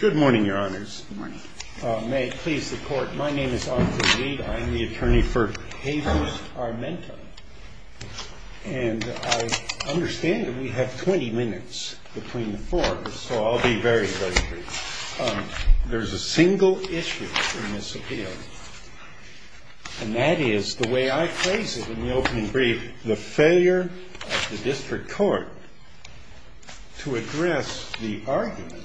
Good morning, your honors. May it please the court, my name is Arthur Reed. I'm the attorney for Jesus Armenta. And I understand that we have 20 minutes between the four of us, so I'll be very brief. There's a single issue in this appeal, and that is the way I phrase it in the opening brief, the failure of the district court to address the argument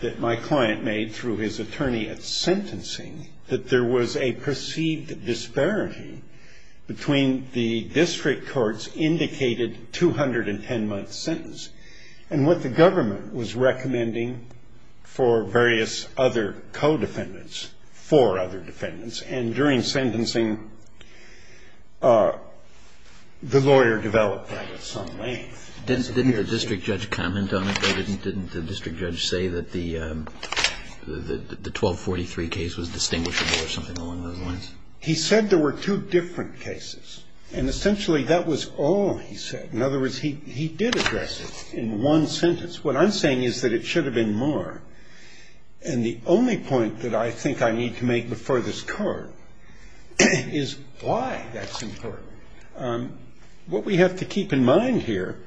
that my client made through his attorney at sentencing that there was a perceived disparity between the district court's indicated 210-month sentence and what the government was recommending for various other co-defendants, for other defendants. And during sentencing, the lawyer developed that at some length. Didn't the district judge comment on it, though? Didn't the district judge say that the 1243 case was distinguishable or something along those lines? He said there were two different cases, and essentially that was all he said. In other words, he did address it in one sentence. What I'm saying is that it should have been more. And the only point that I think I need to make before this court is why that's important. What we have to keep in mind here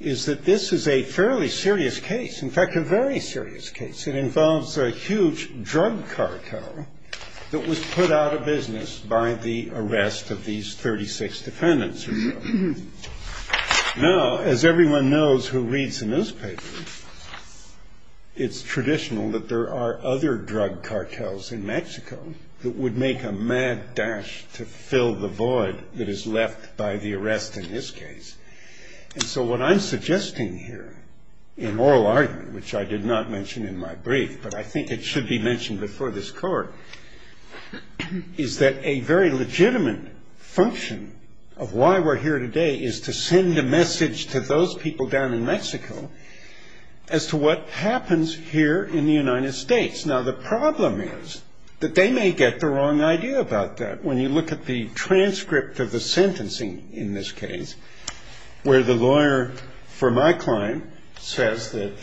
is that this is a fairly serious case, in fact, a very serious case. It involves a huge drug cartel that was put out of business by the arrest of these 36 defendants. Now, as everyone knows who reads the newspaper, it's traditional that there are other drug cartels in Mexico that would make a mad dash to fill the void that is left by the arrest in this case. And so what I'm suggesting here in oral argument, which I did not mention in my brief, but I think it should be mentioned before this court, is that a very legitimate function of why we're here today is to send a message to those people down in Mexico as to what happens here in the United States. Now, the problem is that they may get the wrong idea about that. When you look at the transcript of the sentencing in this case, where the lawyer for my client says that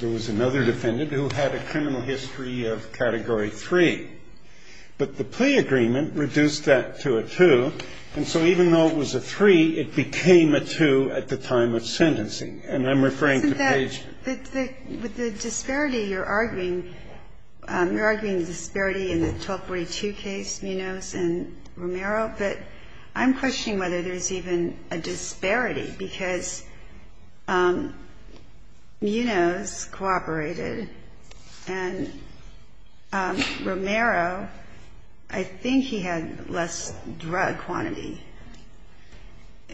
there was another defendant who had a criminal history of Category 3, but the plea agreement reduced that to a 2. And so even though it was a 3, it became a 2 at the time of sentencing. And I'm referring to Page. With the disparity you're arguing, you're arguing the disparity in the 1242 case, Munoz and Romero, but I'm questioning whether there's even a disparity because Munoz cooperated and Romero, I think he had less drug quantity.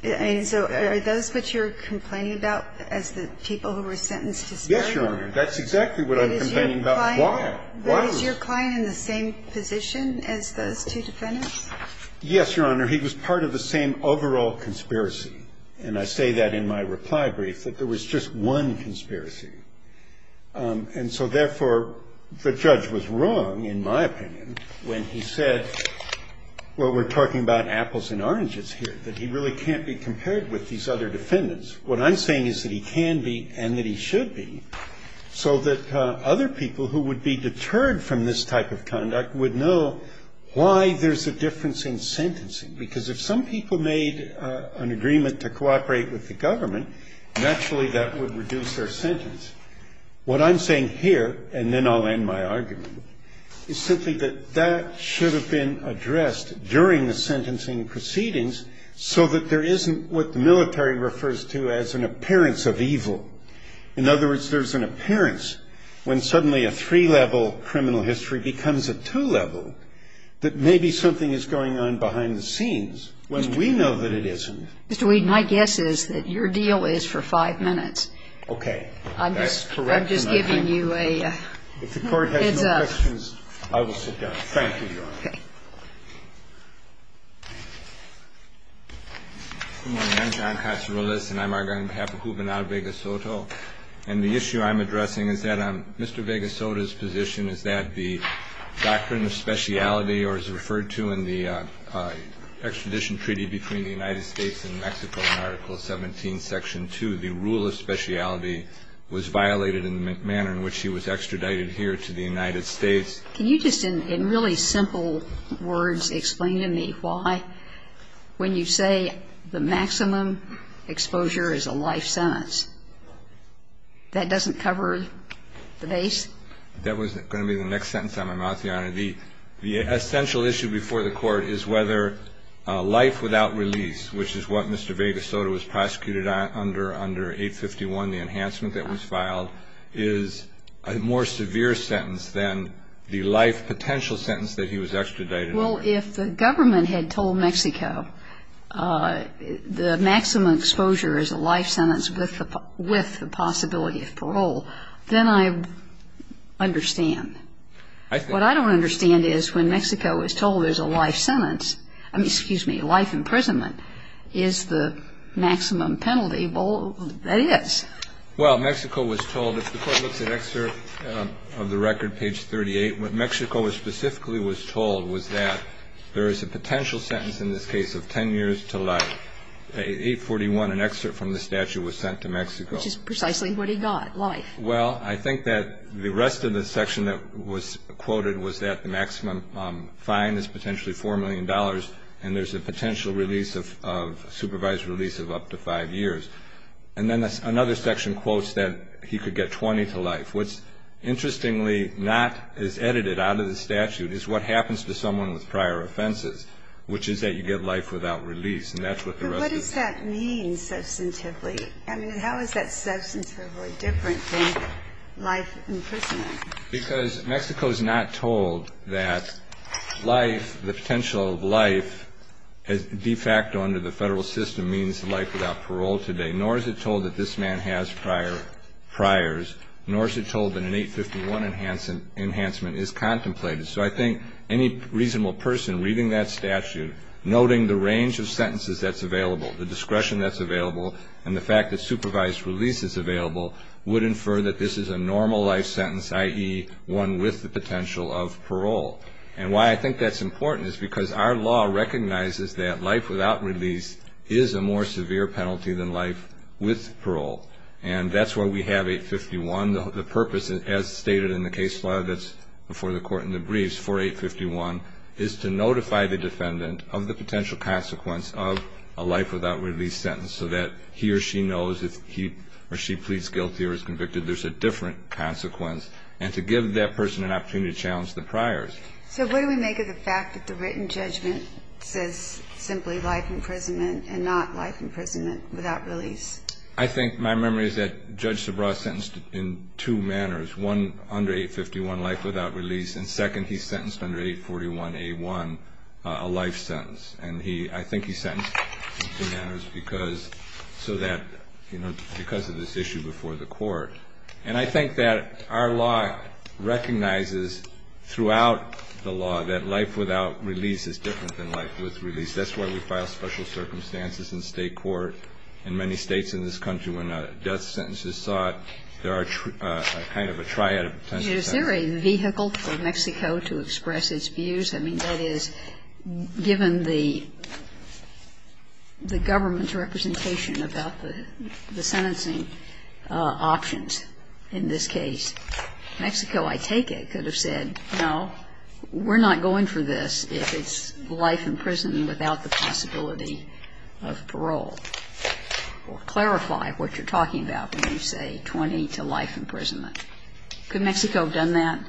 And so are those what you're complaining about as the people who were sentenced to disparity? Yes, Your Honor. That's exactly what I'm complaining about. But is your client in the same position as those two defendants? Yes, Your Honor. He was part of the same overall conspiracy. And I say that in my reply brief, that there was just one conspiracy. And so, therefore, the judge was wrong, in my opinion, when he said, well, we're talking about apples and oranges here, that he really can't be compared with these other defendants. What I'm saying is that he can be and that he should be so that other people who would be deterred from this type of conduct would know why there's a difference in sentencing. Because if some people made an agreement to cooperate with the government, naturally that would reduce their sentence. What I'm saying here, and then I'll end my argument, is simply that that should have been addressed during the sentencing proceedings so that there isn't what the military refers to as an appearance of evil. In other words, there's an appearance when suddenly a three-level criminal history becomes a two-level that maybe something is going on behind the scenes when we know that it isn't. Mr. Weed, my guess is that your deal is for five minutes. Okay. That's correct. I'm just giving you a heads-up. If the Court has no questions, I will sit down. Thank you, Your Honor. Okay. Good morning. I'm John Casarillas, and I'm arguing on behalf of Juvenal-Vegas Soto. And the issue I'm addressing is that Mr. Vegas Soto's position is that the doctrine of speciality or is referred to in the extradition treaty between the United States and Mexico in Article 17, Section 2, the rule of speciality was violated in the manner in which he was extradited here to the United States. Can you just in really simple words explain to me why when you say the maximum exposure is a life sentence, that doesn't cover the base? That was going to be the next sentence out of my mouth, Your Honor. The essential issue before the Court is whether life without release, which is what Mr. Vegas Soto was prosecuted under under 851, the enhancement that was filed, is a more severe sentence than the life potential sentence that he was extradited under. Well, if the government had told Mexico the maximum exposure is a life sentence with the possibility of parole, then I understand. What I don't understand is when Mexico is told there's a life sentence, I mean, excuse me, a life imprisonment, is the maximum penalty. Well, that is. Well, Mexico was told, if the Court looks at excerpt of the record, page 38, what Mexico specifically was told was that there is a potential sentence in this case of 10 years to life. At 841, an excerpt from the statute was sent to Mexico. Which is precisely what he got, life. Well, I think that the rest of the section that was quoted was that the maximum fine is potentially $4 million, and there's a potential release of, supervised release of up to five years. And then another section quotes that he could get 20 to life. What's interestingly not as edited out of the statute is what happens to someone with prior offenses, which is that you get life without release, and that's what the rest of the section says. But what does that mean substantively? I mean, how is that substantively different than life imprisonment? Because Mexico is not told that life, the potential of life, de facto under the federal system means life without parole today, nor is it told that this man has priors, nor is it told that an 851 enhancement is contemplated. So I think any reasonable person reading that statute, noting the range of sentences that's available, the discretion that's available, and the fact that supervised release is available, would infer that this is a normal life sentence, i.e., one with the potential of parole. And why I think that's important is because our law recognizes that life without release is a more severe penalty than life with parole. And that's why we have 851. The purpose, as stated in the case law that's before the Court in the briefs for 851, is to notify the defendant of the potential consequence of a life without release sentence so that he or she knows if he or she pleads guilty or is convicted, there's a different consequence, and to give that person an opportunity to challenge the priors. So what do we make of the fact that the written judgment says simply life imprisonment and not life imprisonment without release? I think my memory is that Judge Subraw sentenced in two manners, one, under 851, life without release, and second, he sentenced under 841A1, a life sentence. And I think he sentenced in two manners because of this issue before the Court. And I think that our law recognizes throughout the law that life without release is different than life with release. That's why we file special circumstances in State court in many States in this country when a death sentence is sought. There are kind of a triad of potential sentences. Is there a vehicle for Mexico to express its views? I mean, that is, given the government's representation about the sentencing options in this case, Mexico, I take it, could have said, no, we're not going for this if it's life in prison without the possibility of parole. Or clarify what you're talking about when you say 20 to life imprisonment. Could Mexico have done that?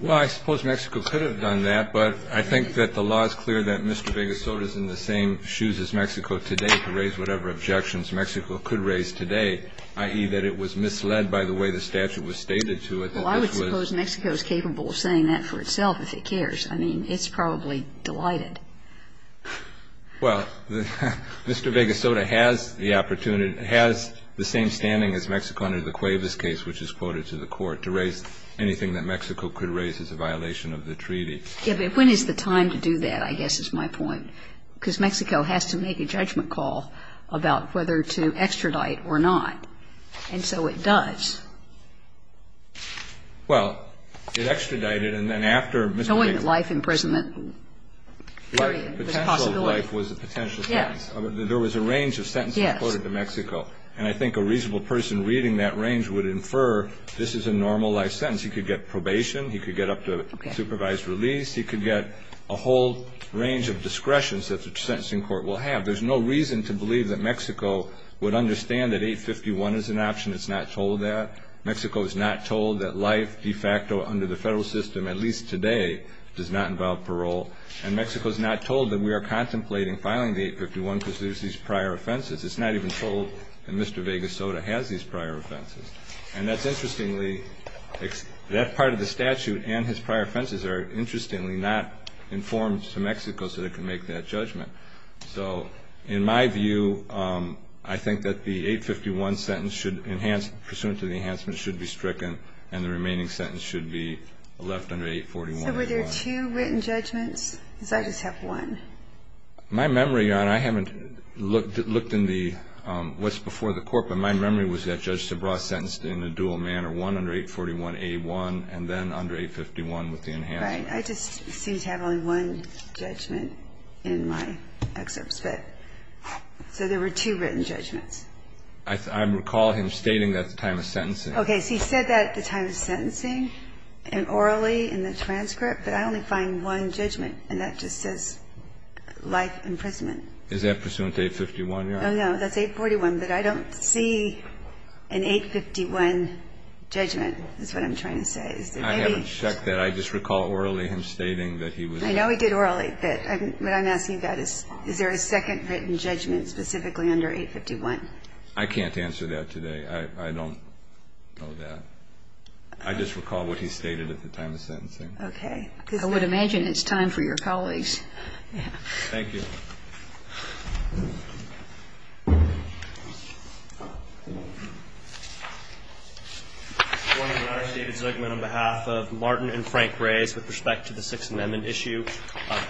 Well, I suppose Mexico could have done that, but I think that the law is clear that Mr. Vega Soto is in the same shoes as Mexico today to raise whatever objections Mexico could raise today. I.e., that it was misled by the way the statute was stated to it. Well, I would suppose Mexico is capable of saying that for itself if it cares. I mean, it's probably delighted. Well, Mr. Vega Soto has the opportunity, has the same standing as Mexico under the Cuevas case, which is quoted to the Court, to raise anything that Mexico could raise as a violation of the treaty. Yes, but when is the time to do that, I guess, is my point. I think that the way to do that is to make a judgment, because Mexico has to make a judgment call about whether to extradite or not, and so it does. Well, it extradited and then after Mr. Vega Soto's case, there was a range of sentences quoted to Mexico. And I think a reasonable person reading that range would infer this is a normal life sentence. He could get probation. He could get up to supervised release. He could get a whole range of discretions that the sentencing court will have. There's no reason to believe that Mexico would understand that 851 is an option. It's not told that. Mexico is not told that life de facto under the federal system, at least today, does not involve parole. And Mexico is not told that we are contemplating filing the 851 because there's these prior offenses. It's not even told that Mr. Vega Soto has these prior offenses. And that's interestingly, that part of the statute and his prior offenses are interestingly not informed to Mexico so they can make that judgment. So in my view, I think that the 851 sentence should enhance, pursuant to the enhancement, should be stricken and the remaining sentence should be left under 841A1. So were there two written judgments? Because I just have one. My memory, Your Honor, I haven't looked in the what's before the court, but my memory was that Judge Subraw sentenced in a dual manner, one under 841A1 and then under 851 with the enhancement. Right. I just seem to have only one judgment in my excerpts. So there were two written judgments. I recall him stating that at the time of sentencing. Okay. So he said that at the time of sentencing and orally in the transcript, but I only find one judgment, and that just says life imprisonment. Is that pursuant to 851, Your Honor? No, no. That's 841. But I don't see an 851 judgment is what I'm trying to say. I haven't checked that. I just recall orally him stating that he was. I know he did orally, but what I'm asking you about is, is there a second written judgment specifically under 851? I can't answer that today. I don't know that. I just recall what he stated at the time of sentencing. Okay. I would imagine it's time for your colleagues. Thank you. Good morning, Your Honor. David Zugman on behalf of Martin and Frank Reyes with respect to the Sixth Amendment issue.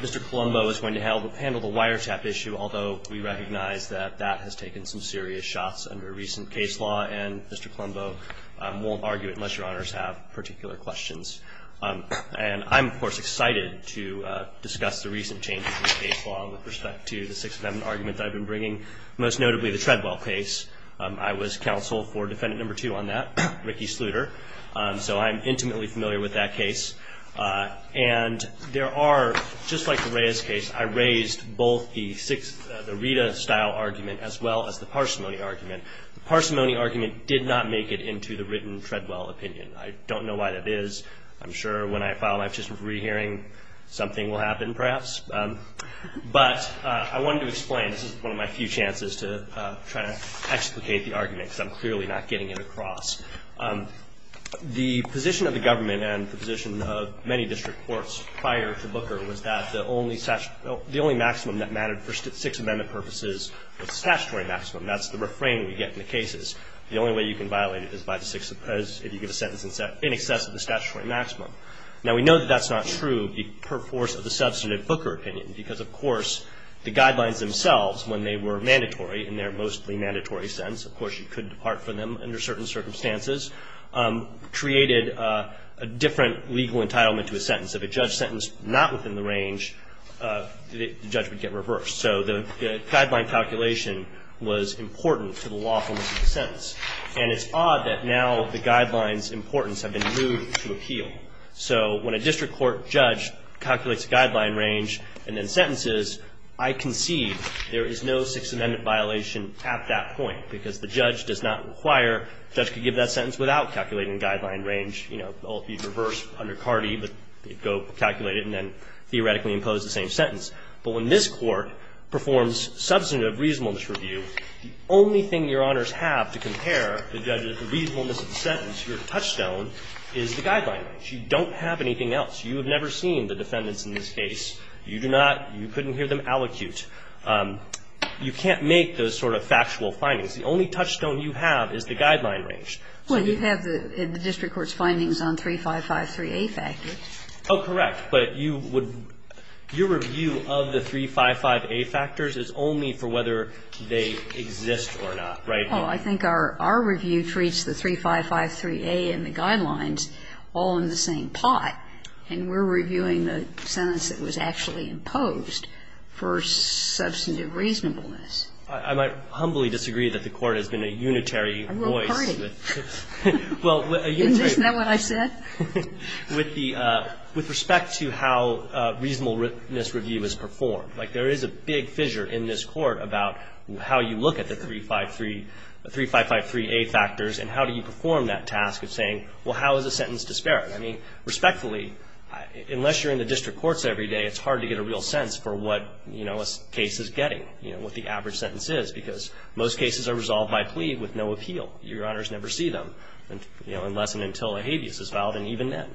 Mr. Colombo is going to help handle the wiretap issue, although we recognize that that has taken some serious shots under recent case law, and Mr. Colombo won't argue it unless Your Honors have particular questions. And I'm, of course, excited to discuss the recent changes in case law with respect to the Sixth Amendment. I have an argument that I've been bringing, most notably the Treadwell case. I was counsel for Defendant No. 2 on that, Ricky Sluder, so I'm intimately familiar with that case. And there are, just like the Reyes case, I raised both the Rita-style argument as well as the parsimony argument. The parsimony argument did not make it into the written Treadwell opinion. I don't know why that is. I'm sure when I file my petition for re-hearing, something will happen perhaps. But I wanted to explain. This is one of my few chances to try to explicate the argument because I'm clearly not getting it across. The position of the government and the position of many district courts prior to Booker was that the only maximum that mattered for Sixth Amendment purposes was the statutory maximum. That's the refrain we get in the cases. The only way you can violate it is if you get a sentence in excess of the statutory maximum. Now, we know that that's not true. It would be per force of the substantive Booker opinion because, of course, the guidelines themselves, when they were mandatory in their mostly mandatory sentence, of course, you could depart from them under certain circumstances, created a different legal entitlement to a sentence. If a judge sentenced not within the range, the judge would get reversed. So the guideline calculation was important to the lawfulness of the sentence. And it's odd that now the guidelines' importance have been moved to appeal. So when a district court judge calculates a guideline range and then sentences, I concede there is no Sixth Amendment violation at that point because the judge does not require the judge to give that sentence without calculating the guideline range. You know, it would be reversed under Cardi, but you'd go calculate it and then theoretically impose the same sentence. But when this court performs substantive reasonableness review, the only thing your honors have to compare the judge's reasonableness of the sentence to your touchstone is the guideline range. You don't have anything else. You have never seen the defendants in this case. You do not you couldn't hear them allocute. You can't make those sort of factual findings. The only touchstone you have is the guideline range. So you have the district court's findings on 3553A factors. Oh, correct. But you would your review of the 355A factors is only for whether they exist or not, right? Oh, I think our review treats the 3553A and the guidelines all in the same pot, and we're reviewing the sentence that was actually imposed for substantive reasonableness. I might humbly disagree that the Court has been a unitary voice. I will party. Well, a unitary voice. Isn't that what I said? With respect to how reasonableness review is performed, like there is a big fissure in this Court about how you look at the 3553A factors and how do you perform that task of saying, well, how is a sentence disparate? I mean, respectfully, unless you're in the district courts every day, it's hard to get a real sense for what a case is getting, what the average sentence is because most cases are resolved by plea with no appeal. Your honors never see them unless and until a habeas is filed and even then.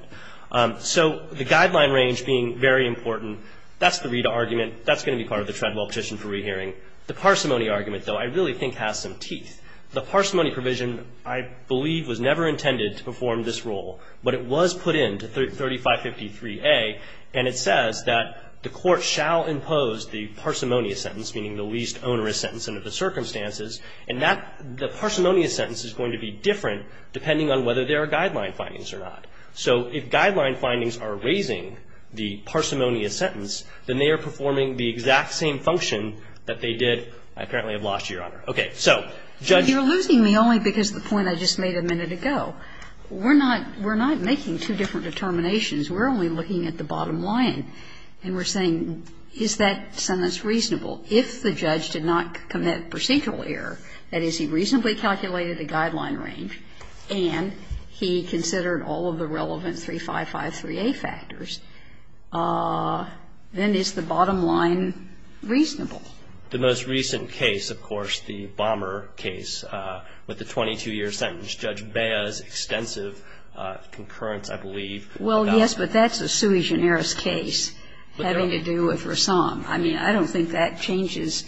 So the guideline range being very important, that's the RETA argument. That's going to be part of the Treadwell petition for rehearing. The parsimony argument, though, I really think has some teeth. The parsimony provision I believe was never intended to perform this role, but it was put into 3553A, and it says that the Court shall impose the parsimonious sentence, meaning the least onerous sentence under the circumstances, and that the parsimonious sentence is going to be different depending on whether there are guideline findings or not. So if guideline findings are raising the parsimonious sentence, then they are performing the exact same function that they did. I apparently have lost you, Your Honor. Okay. So Judge ---- You're losing me only because of the point I just made a minute ago. We're not making two different determinations. We're only looking at the bottom line. And we're saying, is that sentence reasonable? If the judge did not commit procedural error, that is, he reasonably calculated the guideline range and he considered all of the relevant 3553A factors, then is the bottom line reasonable? The most recent case, of course, the Bomber case with the 22-year sentence, Judge Bea's extensive concurrence, I believe. Well, yes, but that's a sui generis case having to do with Rassam. I mean, I don't think that changes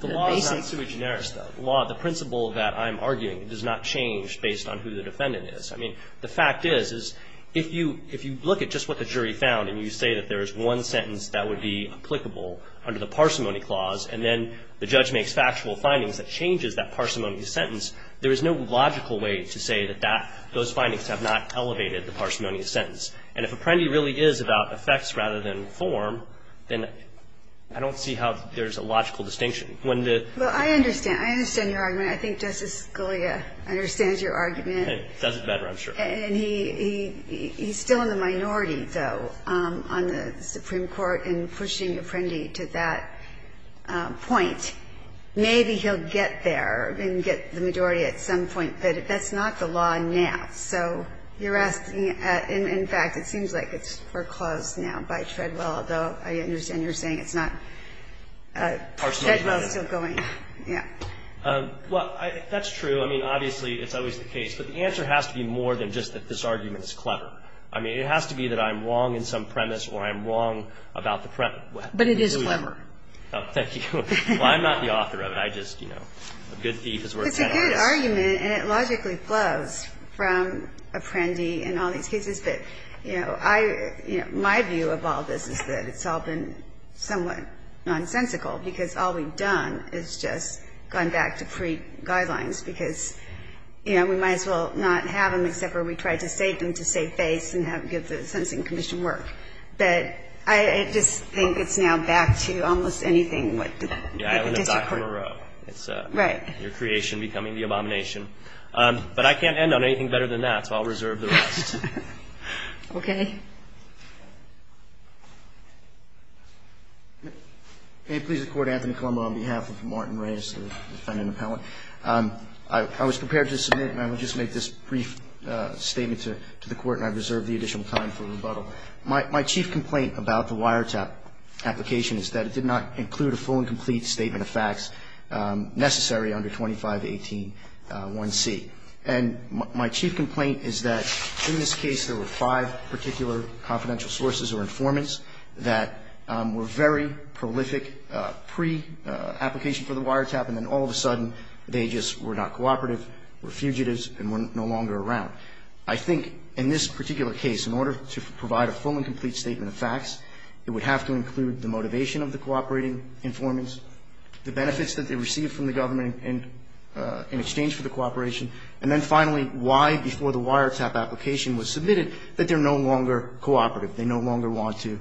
the basic ---- The law is not sui generis, though. The law, the principle that I'm arguing does not change based on who the defendant I mean, the fact is, is if you look at just what the jury found and you say that there is one sentence that would be applicable under the parsimony clause, and then the judge makes factual findings that changes that parsimony sentence, there is no logical way to say that those findings have not elevated the parsimony sentence. And if Apprendi really is about effects rather than form, then I don't see how there's a logical distinction. Well, I understand. I understand your argument. I think Justice Scalia understands your argument. It doesn't matter, I'm sure. And he's still in the minority, though, on the Supreme Court in pushing Apprendi to that point. Maybe he'll get there and get the majority at some point, but that's not the law now. So you're asking ---- in fact, it seems like it's foreclosed now by Treadwell, although I understand you're saying it's not. Treadwell is still going. Yeah. Well, that's true. I mean, obviously, it's always the case. But the answer has to be more than just that this argument is clever. I mean, it has to be that I'm wrong in some premise or I'm wrong about the premise. But it is clever. Oh, thank you. Well, I'm not the author of it. I just, you know, a good thief is worth ten hours. It's a good argument, and it logically flows from Apprendi in all these cases. But, you know, I ---- my view of all this is that it's all been somewhat nonsensical, because all we've done is just gone back to pre-guidelines, because, you know, we might as well not have them, except for we tried to save them to save face and give the sentencing commission work. But I just think it's now back to almost anything. Yeah. It's your creation becoming the abomination. But I can't end on anything better than that, so I'll reserve the rest. Okay. Anthony? May it please the Court. Anthony Colombo on behalf of Martin Reyes, the defendant appellant. I was prepared to submit, and I will just make this brief statement to the Court, and I reserve the additional time for rebuttal. My chief complaint about the wiretap application is that it did not include a full and complete statement of facts necessary under 25181C. And my chief complaint is that in this case there were five particular confidential sources or informants that were very prolific pre-application for the wiretap, and then all of a sudden they just were not cooperative, were fugitives, and were no longer around. I think in this particular case, in order to provide a full and complete statement of facts, it would have to include the motivation of the cooperating informants, the benefits that they received from the government in exchange for the cooperation, and then finally why, before the wiretap application was submitted, that they're no longer cooperative. They no longer want to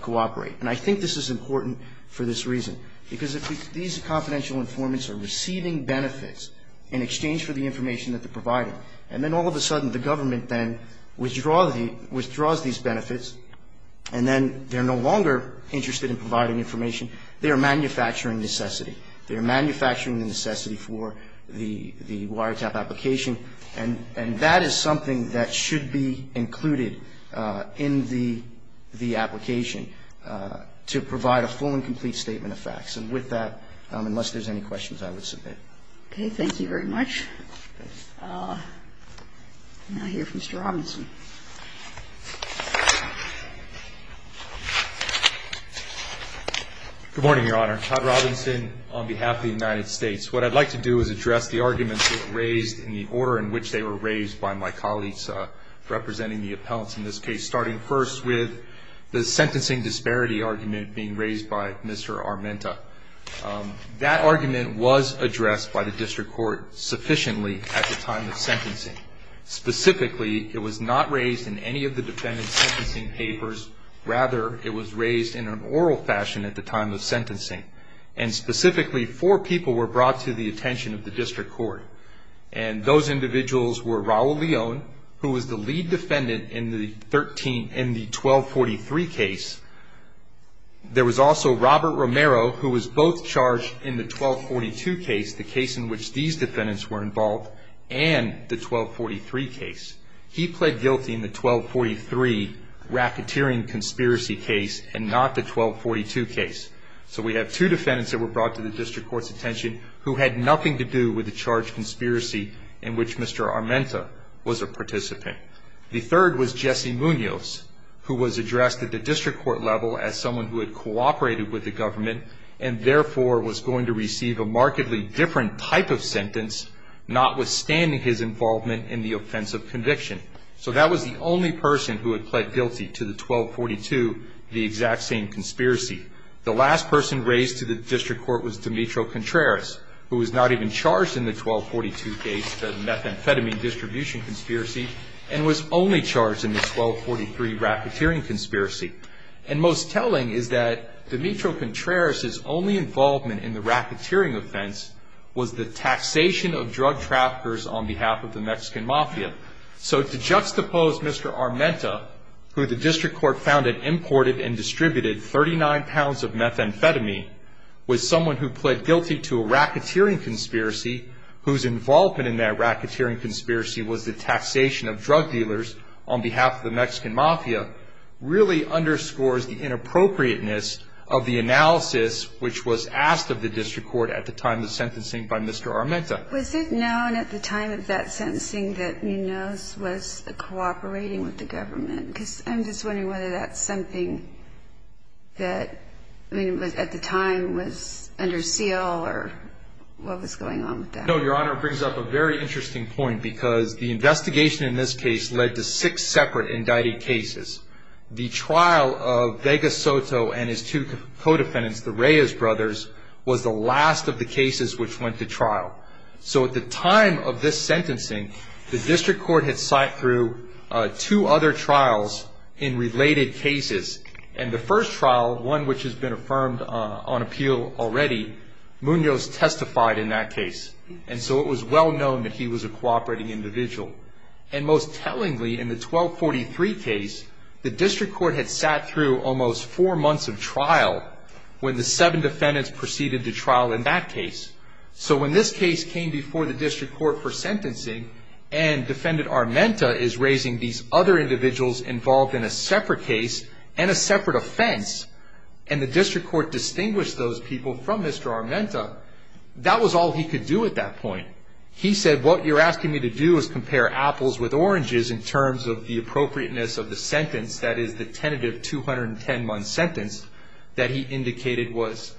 cooperate. And I think this is important for this reason, because if these confidential informants are receiving benefits in exchange for the information that they're providing, and then all of a sudden the government then withdraws these benefits, and then they're no longer interested in providing information, they are manufacturing necessity. They are manufacturing the necessity for the wiretap application. And that is something that should be included in the application to provide a full and complete statement of facts. And with that, unless there's any questions, I would submit. Okay, thank you very much. Now I hear from Mr. Robinson. Good morning, Your Honor. Todd Robinson on behalf of the United States. What I'd like to do is address the arguments raised in the order in which they were raised by my colleagues representing the appellants in this case, starting first with the sentencing disparity argument being raised by Mr. Armenta. That argument was addressed by the district court sufficiently at the time of sentencing. Specifically, it was not raised in any of the defendant's sentencing papers. Rather, it was raised in an oral fashion at the time of sentencing. And specifically, four people were brought to the attention of the district court. And those individuals were Raul Leon, who was the lead defendant in the 1243 case. There was also Robert Romero, who was both charged in the 1242 case, the case in which these defendants were involved, and the 1243 case. He pled guilty in the 1243 racketeering conspiracy case and not the 1242 case. So we have two defendants that were brought to the district court's attention who had nothing to do with the charged conspiracy in which Mr. Armenta was a participant. The third was Jesse Munoz, who was addressed at the district court level as someone who had cooperated with the government and therefore was going to receive a markedly different type of sentence, notwithstanding his involvement in the offensive conviction. So that was the only person who had pled guilty to the 1242, the exact same conspiracy. The last person raised to the district court was Dimitri Contreras, who was not even charged in the 1242 case, the methamphetamine distribution conspiracy, and was only charged in the 1243 racketeering conspiracy. And most telling is that Dimitri Contreras' only involvement in the racketeering offense was the taxation of drug traffickers on behalf of the Mexican mafia. So to juxtapose Mr. Armenta, who the district court found had imported and distributed 39 pounds of methamphetamine, was someone who pled guilty to a racketeering conspiracy whose involvement in that racketeering conspiracy was the taxation of drug dealers on behalf of the Mexican mafia, really underscores the inappropriateness of the analysis which was asked of the district court at the time of the sentencing by Mr. Armenta. Was it known at the time of that sentencing that Munoz was cooperating with the government? Because I'm just wondering whether that's something that, I mean, at the time was under seal or what was going on with that? No, Your Honor, it brings up a very interesting point because the investigation in this case led to six separate indicted cases. The trial of Vega Soto and his two co-defendants, the Reyes brothers, was the last of the cases which went to trial. So at the time of this sentencing, the district court had sighted through two other trials in related cases. And the first trial, one which has been affirmed on appeal already, Munoz testified in that case. And so it was well known that he was a cooperating individual. And most tellingly, in the 1243 case, the district court had sat through almost four months of trial when the seven defendants proceeded to trial in that case. So when this case came before the district court for sentencing and Defendant Armenta is raising these other individuals involved in a separate case and a separate offense, and the district court distinguished those people from Mr. Armenta, that was all he could do at that point. He said, what you're asking me to do is compare apples with oranges in terms of the appropriateness of the sentence, that is the tentative 210-month sentence that he indicated was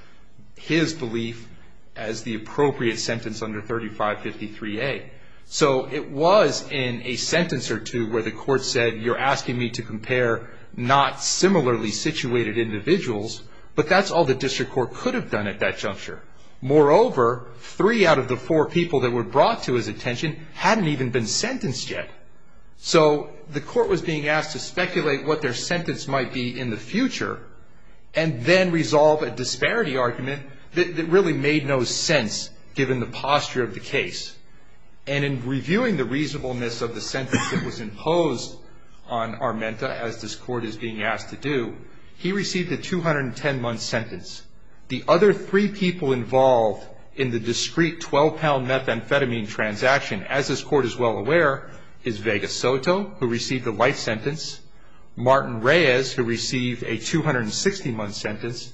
his belief as the appropriate sentence under 3553A. So it was in a sentence or two where the court said, you're asking me to compare not similarly situated individuals, but that's all the district court could have done at that juncture. Moreover, three out of the four people that were brought to his attention hadn't even been sentenced yet. So the court was being asked to speculate what their sentence might be in the future and then resolve a disparity argument that really made no sense given the posture of the case. And in reviewing the reasonableness of the sentence that was imposed on Armenta as this court is being asked to do, he received a 210-month sentence. The other three people involved in the discrete 12-pound methamphetamine transaction, as this court is well aware, is Vega Soto, who received a life sentence, Martin Reyes, who received a 260-month sentence,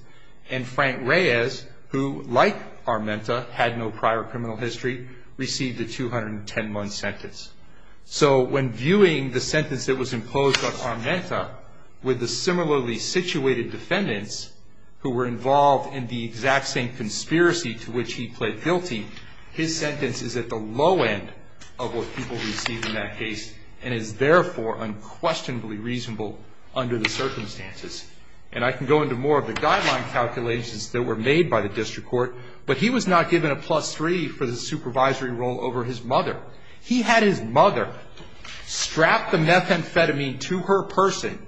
and Frank Reyes, who, like Armenta, had no prior criminal history, received a 210-month sentence. So when viewing the sentence that was imposed on Armenta with the similarly situated defendants, who were involved in the exact same conspiracy to which he pled guilty, his sentence is at the low end of what people received in that case and is therefore unquestionably reasonable under the circumstances. And I can go into more of the guideline calculations that were made by the district court, but he was not given a plus three for the supervisory role over his mother. He had his mother strap the methamphetamine to her person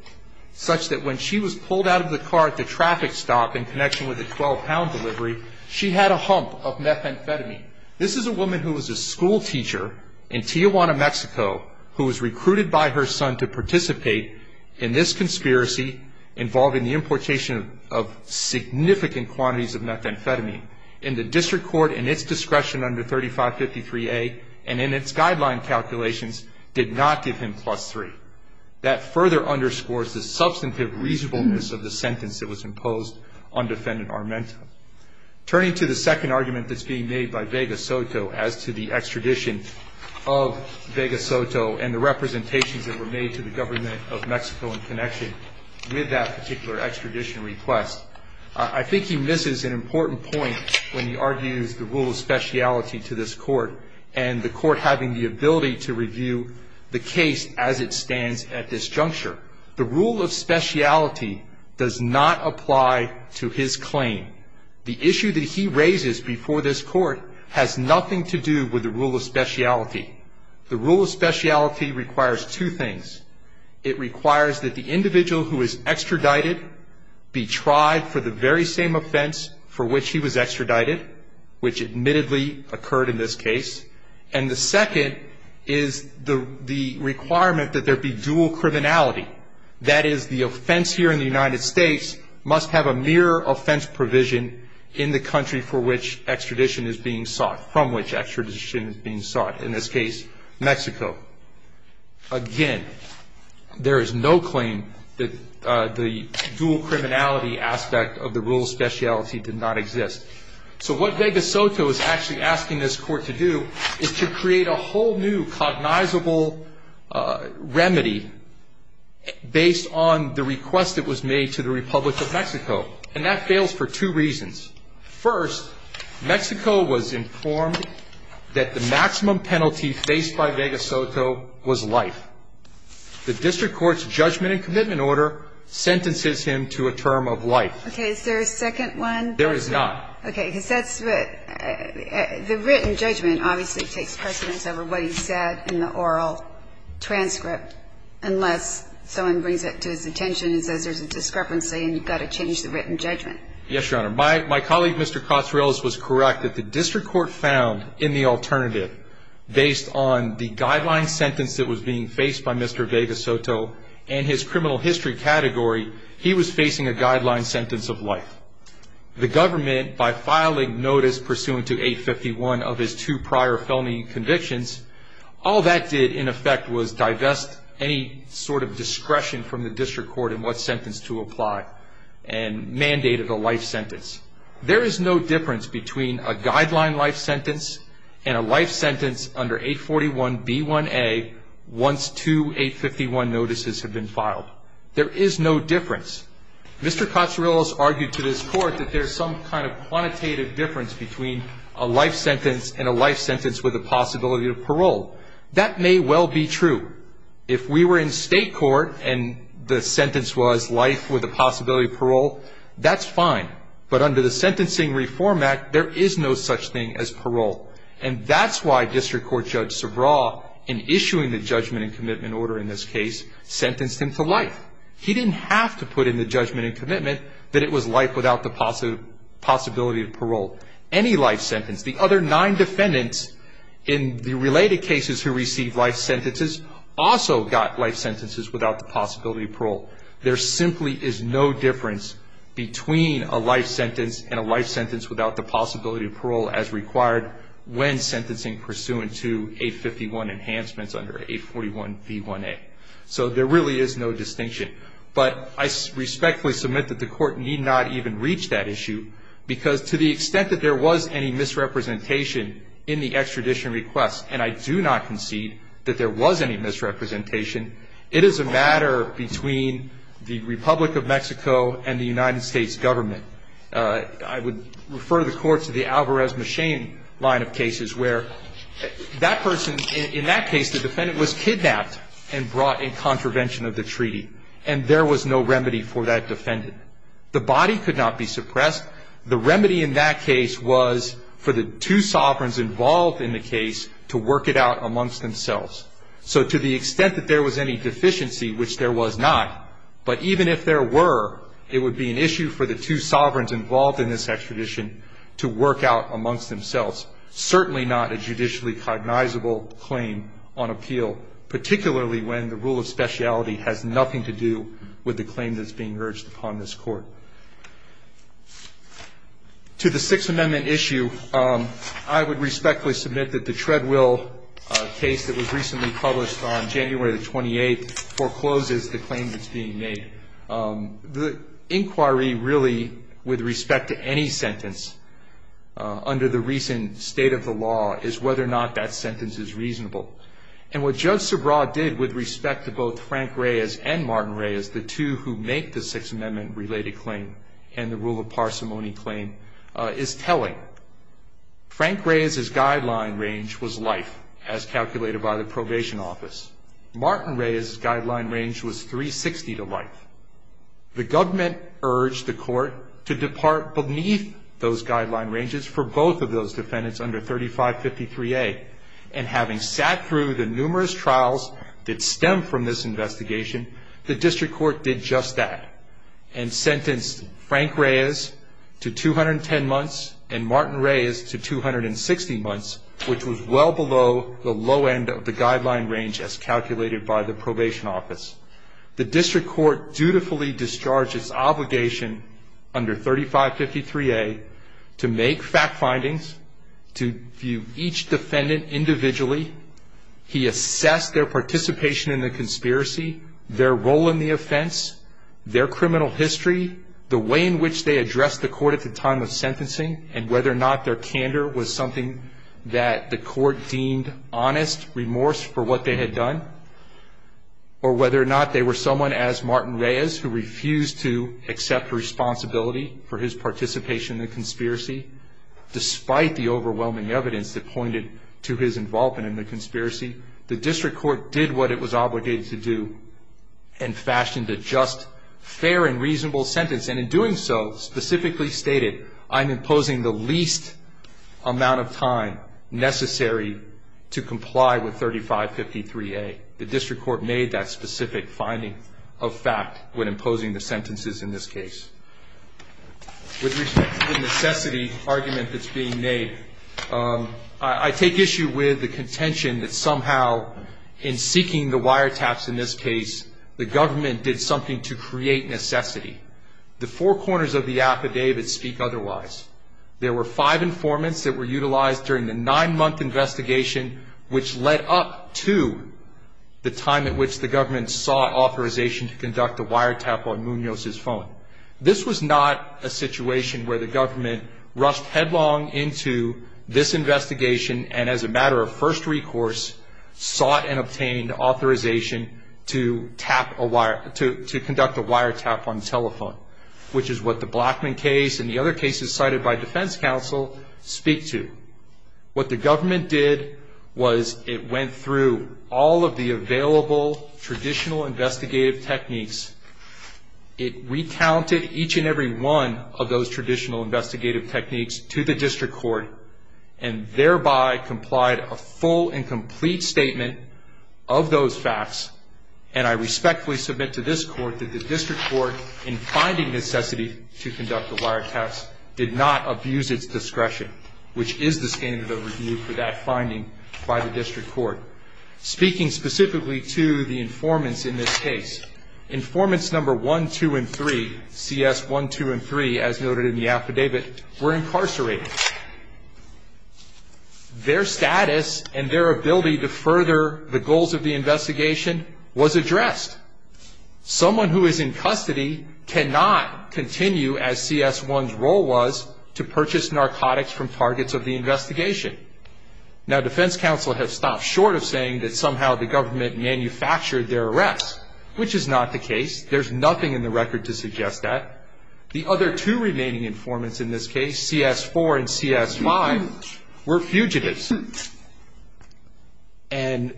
such that when she was pulled out of the car at the traffic stop in connection with the 12-pound delivery, she had a hump of methamphetamine. This is a woman who was a schoolteacher in Tijuana, Mexico, who was recruited by her son to participate in this conspiracy involving the importation of significant quantities of methamphetamine. And the district court, in its discretion under 3553A, and in its guideline calculations, did not give him plus three. That further underscores the substantive reasonableness of the sentence that was imposed on defendant Armenta. Turning to the second argument that's being made by Vega Soto as to the extradition of Vega Soto and the representations that were made to the government of Mexico in connection with that particular extradition request, I think he misses an important point when he argues the rule of speciality to this court and the court having the ability to review the case as it stands at this juncture. The rule of speciality does not apply to his claim. The issue that he raises before this court has nothing to do with the rule of speciality. The rule of speciality requires two things. It requires that the individual who is extradited be tried for the very same offense for which he was extradited, which admittedly occurred in this case. And the second is the requirement that there be dual criminality. That is, the offense here in the United States must have a mere offense provision in the country for which extradition is being sought, from which extradition is being sought, in this case Mexico. Again, there is no claim that the dual criminality aspect of the rule of speciality did not exist. So what Vega Soto is actually asking this court to do is to create a whole new cognizable remedy based on the request that was made to the Republic of Mexico. And that fails for two reasons. First, Mexico was informed that the maximum penalty faced by Vega Soto was life. The district court's judgment and commitment order sentences him to a term of life. Okay. Is there a second one? There is not. Okay. Because that's what the written judgment obviously takes precedence over what he said in the oral transcript, unless someone brings it to his attention and says there's a discrepancy and you've got to change the written judgment. Yes, Your Honor. My colleague, Mr. Cotreles, was correct that the district court found in the alternative, based on the guideline sentence that was being faced by Mr. Vega Soto and his criminal history category, he was facing a guideline sentence of life. The government, by filing notice pursuant to 851 of his two prior felony convictions, all that did in effect was divest any sort of discretion from the district court in what sentence to apply and mandated a life sentence. There is no difference between a guideline life sentence and a life sentence under 841B1A once two 851 notices have been filed. There is no difference. Mr. Cotreles argued to this court that there's some kind of quantitative difference between a life sentence and a life sentence with the possibility of parole. That may well be true. If we were in state court and the sentence was life with the possibility of parole, that's fine. But under the Sentencing Reform Act, there is no such thing as parole. And that's why District Court Judge Sobraw, in issuing the judgment and commitment order in this case, sentenced him to life. He didn't have to put in the judgment and commitment that it was life without the possibility of parole. Any life sentence. The other nine defendants in the related cases who received life sentences also got life sentences without the possibility of parole. There simply is no difference between a life sentence and a life sentence without the possibility of parole as required when sentencing pursuant to 851 enhancements under 841B1A. So there really is no distinction. But I respectfully submit that the court need not even reach that issue because to the extent that there was any misrepresentation in the extradition request, and I do not concede that there was any misrepresentation, it is a matter between the Republic of Mexico and the United States government. I would refer the court to the Alvarez-Machin line of cases where that person, in that case, the defendant was kidnapped and brought in contravention of the treaty, and there was no remedy for that defendant. The body could not be suppressed. The remedy in that case was for the two sovereigns involved in the case to work it out amongst themselves. So to the extent that there was any deficiency, which there was not, but even if there were, it would be an issue for the two sovereigns involved in this extradition to work out amongst themselves. Certainly not a judicially cognizable claim on appeal, particularly when the rule of speciality has nothing to do with the claim that's being urged upon this court. To the Sixth Amendment issue, I would respectfully submit that the Treadwell case that was recently published on January the 28th forecloses the claim that's being made. The inquiry really, with respect to any sentence under the recent state of the law, is whether or not that sentence is reasonable. And what Judge Subraw did with respect to both Frank Reyes and Martin Reyes, the two who make the Sixth Amendment-related claim and the rule of parsimony claim, is telling. Frank Reyes' guideline range was life, as calculated by the probation office. Martin Reyes' guideline range was 360 to life. The government urged the court to depart beneath those guideline ranges for both of those defendants under 3553A, and having sat through the numerous trials that stem from this investigation, the district court did just that and sentenced Frank Reyes to 210 months and Martin Reyes to 260 months, which was well below the low end of the guideline range as calculated by the probation office. The district court dutifully discharged its obligation under 3553A to make fact findings, to view each defendant individually. He assessed their participation in the conspiracy, their role in the offense, their criminal history, the way in which they addressed the court at the time of sentencing, and whether or not their candor was something that the court deemed honest remorse for what they had done, or whether or not they were someone as Martin Reyes who refused to accept responsibility for his participation in the conspiracy, despite the overwhelming evidence that pointed to his involvement in the conspiracy. The district court did what it was obligated to do and fashioned a just, fair, and reasonable sentence, and in doing so, specifically stated, I'm imposing the least amount of time necessary to comply with 3553A. The district court made that specific finding of fact when imposing the sentences in this case. With respect to the necessity argument that's being made, I take issue with the contention that somehow in seeking the wiretaps in this case, the government did something to create necessity. The four corners of the affidavit speak otherwise. There were five informants that were utilized during the nine-month investigation, which led up to the time at which the government sought authorization to conduct a wiretap on Munoz's phone. This was not a situation where the government rushed headlong into this investigation and as a matter of first recourse, sought and obtained authorization to tap a wire, to conduct a wiretap on telephone, which is what the Blackman case and the other cases cited by defense counsel speak to. What the government did was it went through all of the available traditional investigative techniques. It recounted each and every one of those traditional investigative techniques to the district court and thereby complied a full and complete statement of those facts, and I respectfully submit to this court that the district court, in finding necessity to conduct the wiretaps, did not abuse its discretion, which is the standard of review for that finding by the district court. Speaking specifically to the informants in this case, informants number 1, 2, and 3, CS1, 2, and 3, as noted in the affidavit, were incarcerated. Their status and their ability to further the goals of the investigation was addressed. Someone who is in custody cannot continue, as CS1's role was, to purchase narcotics from targets of the investigation. Now, defense counsel has stopped short of saying that somehow the government manufactured their arrests, which is not the case. There's nothing in the record to suggest that. The other two remaining informants in this case, CS4 and CS5, were fugitives. And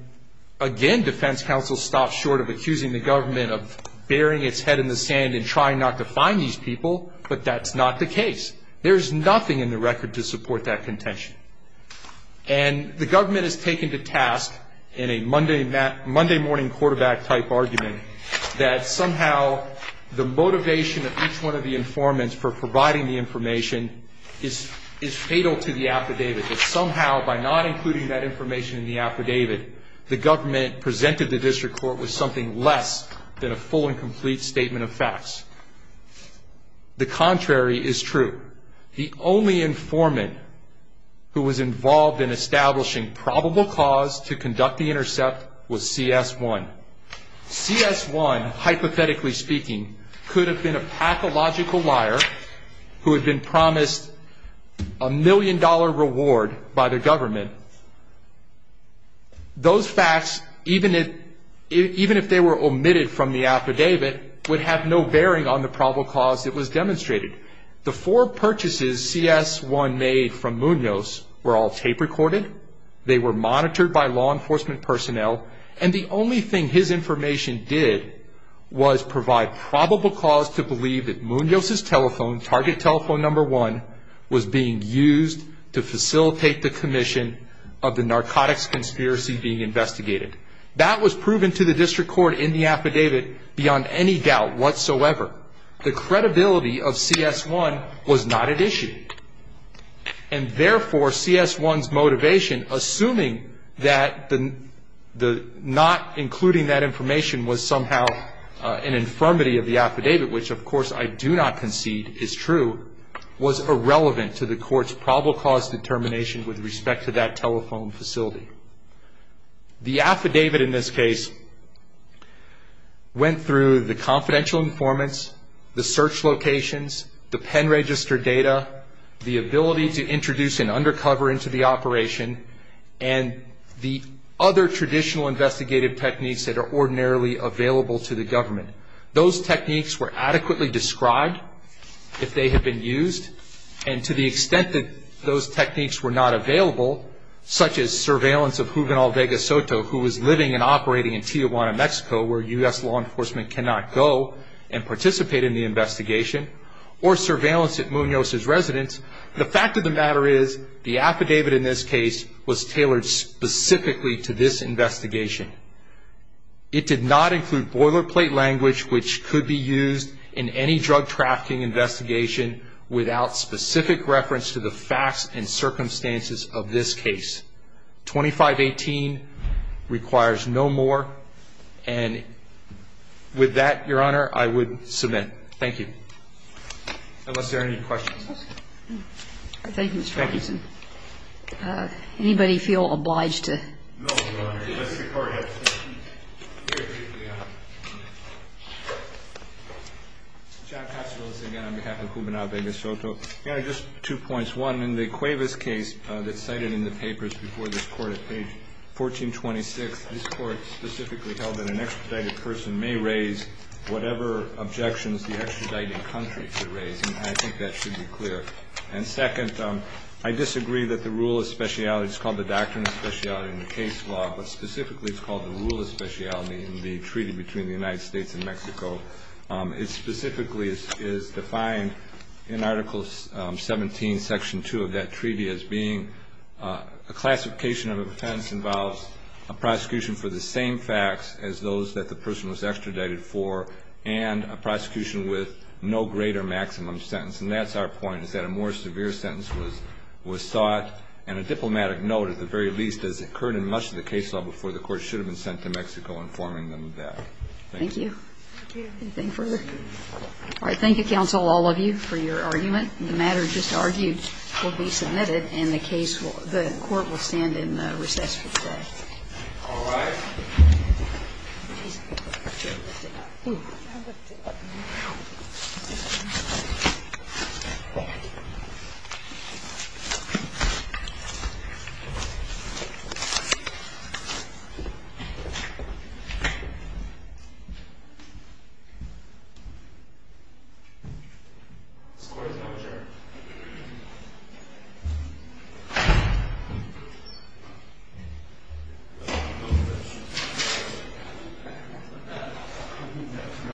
again, defense counsel stopped short of accusing the government of burying its head in the sand and trying not to find these people, but that's not the case. There's nothing in the record to support that contention. And the government is taken to task in a Monday morning quarterback type argument that somehow the motivation of each one of the informants for providing the information is fatal to the affidavit, that somehow by not including that information in the affidavit, the government presented the district court with something less than a full and complete statement of facts. The contrary is true. The only informant who was involved in establishing probable cause to conduct the intercept was CS1. CS1, hypothetically speaking, could have been a pathological liar who had been promised a million dollar reward by the government. Those facts, even if they were omitted from the affidavit, would have no bearing on the probable cause that was demonstrated. The four purchases CS1 made from Munoz were all tape recorded. They were monitored by law enforcement personnel. And the only thing his information did was provide probable cause to believe that Munoz's telephone, target telephone number one, was being used to facilitate the commission of the narcotics conspiracy being investigated. That was proven to the district court in the affidavit beyond any doubt whatsoever. The credibility of CS1 was not at issue. And therefore, CS1's motivation, assuming that not including that information was somehow an infirmity of the affidavit, which of course I do not concede is true, was irrelevant to the court's probable cause determination with respect to that telephone facility. The affidavit in this case went through the confidential informants, the search locations, the pen register data, the ability to introduce an undercover into the operation, and the other traditional investigative techniques that are ordinarily available to the government. Those techniques were adequately described if they had been used. And to the extent that those techniques were not available, such as surveillance of Juvenal Vega Soto, who was living and operating in Tijuana, Mexico, where U.S. law enforcement cannot go and participate in the investigation, or surveillance at Munoz's residence, the fact of the matter is, the affidavit in this case was tailored specifically to this investigation. It did not include boilerplate language which could be used in any drug trafficking investigation without specific reference to the facts and circumstances of this case. 2518 requires no more. And with that, Your Honor, I would submit. Thank you. Unless there are any questions. Thank you, Mr. Richardson. Thank you. Anybody feel obliged to? No, Your Honor. Unless the Court has to. Very briefly, Your Honor. John Castros, again, on behalf of Juvenal Vega Soto. Your Honor, just two points. One, in the Cuevas case that's cited in the papers before this Court at page 1426, this Court specifically held that an extradited person may raise whatever objections the extradited country could raise, and I think that should be clear. And second, I disagree that the rule of speciality, it's called the doctrine of speciality in the case law, but specifically it's called the rule of speciality in the treaty between the United States and Mexico. It specifically is defined in Article 17, Section 2 of that treaty, as being a classification of offense involves a prosecution for the same facts as those that the person was extradited for and a prosecution with no greater maximum sentence. And that's our point, is that a more severe sentence was sought, and a diplomatic note, at the very least, as occurred in much of the case law before the Court should have been sent to Mexico informing them of that. Thank you. Thank you. Anything further? All right. Thank you, counsel, all of you, for your argument. The matter just argued will be submitted, and the court will stand in recess for today. All right. Thank you.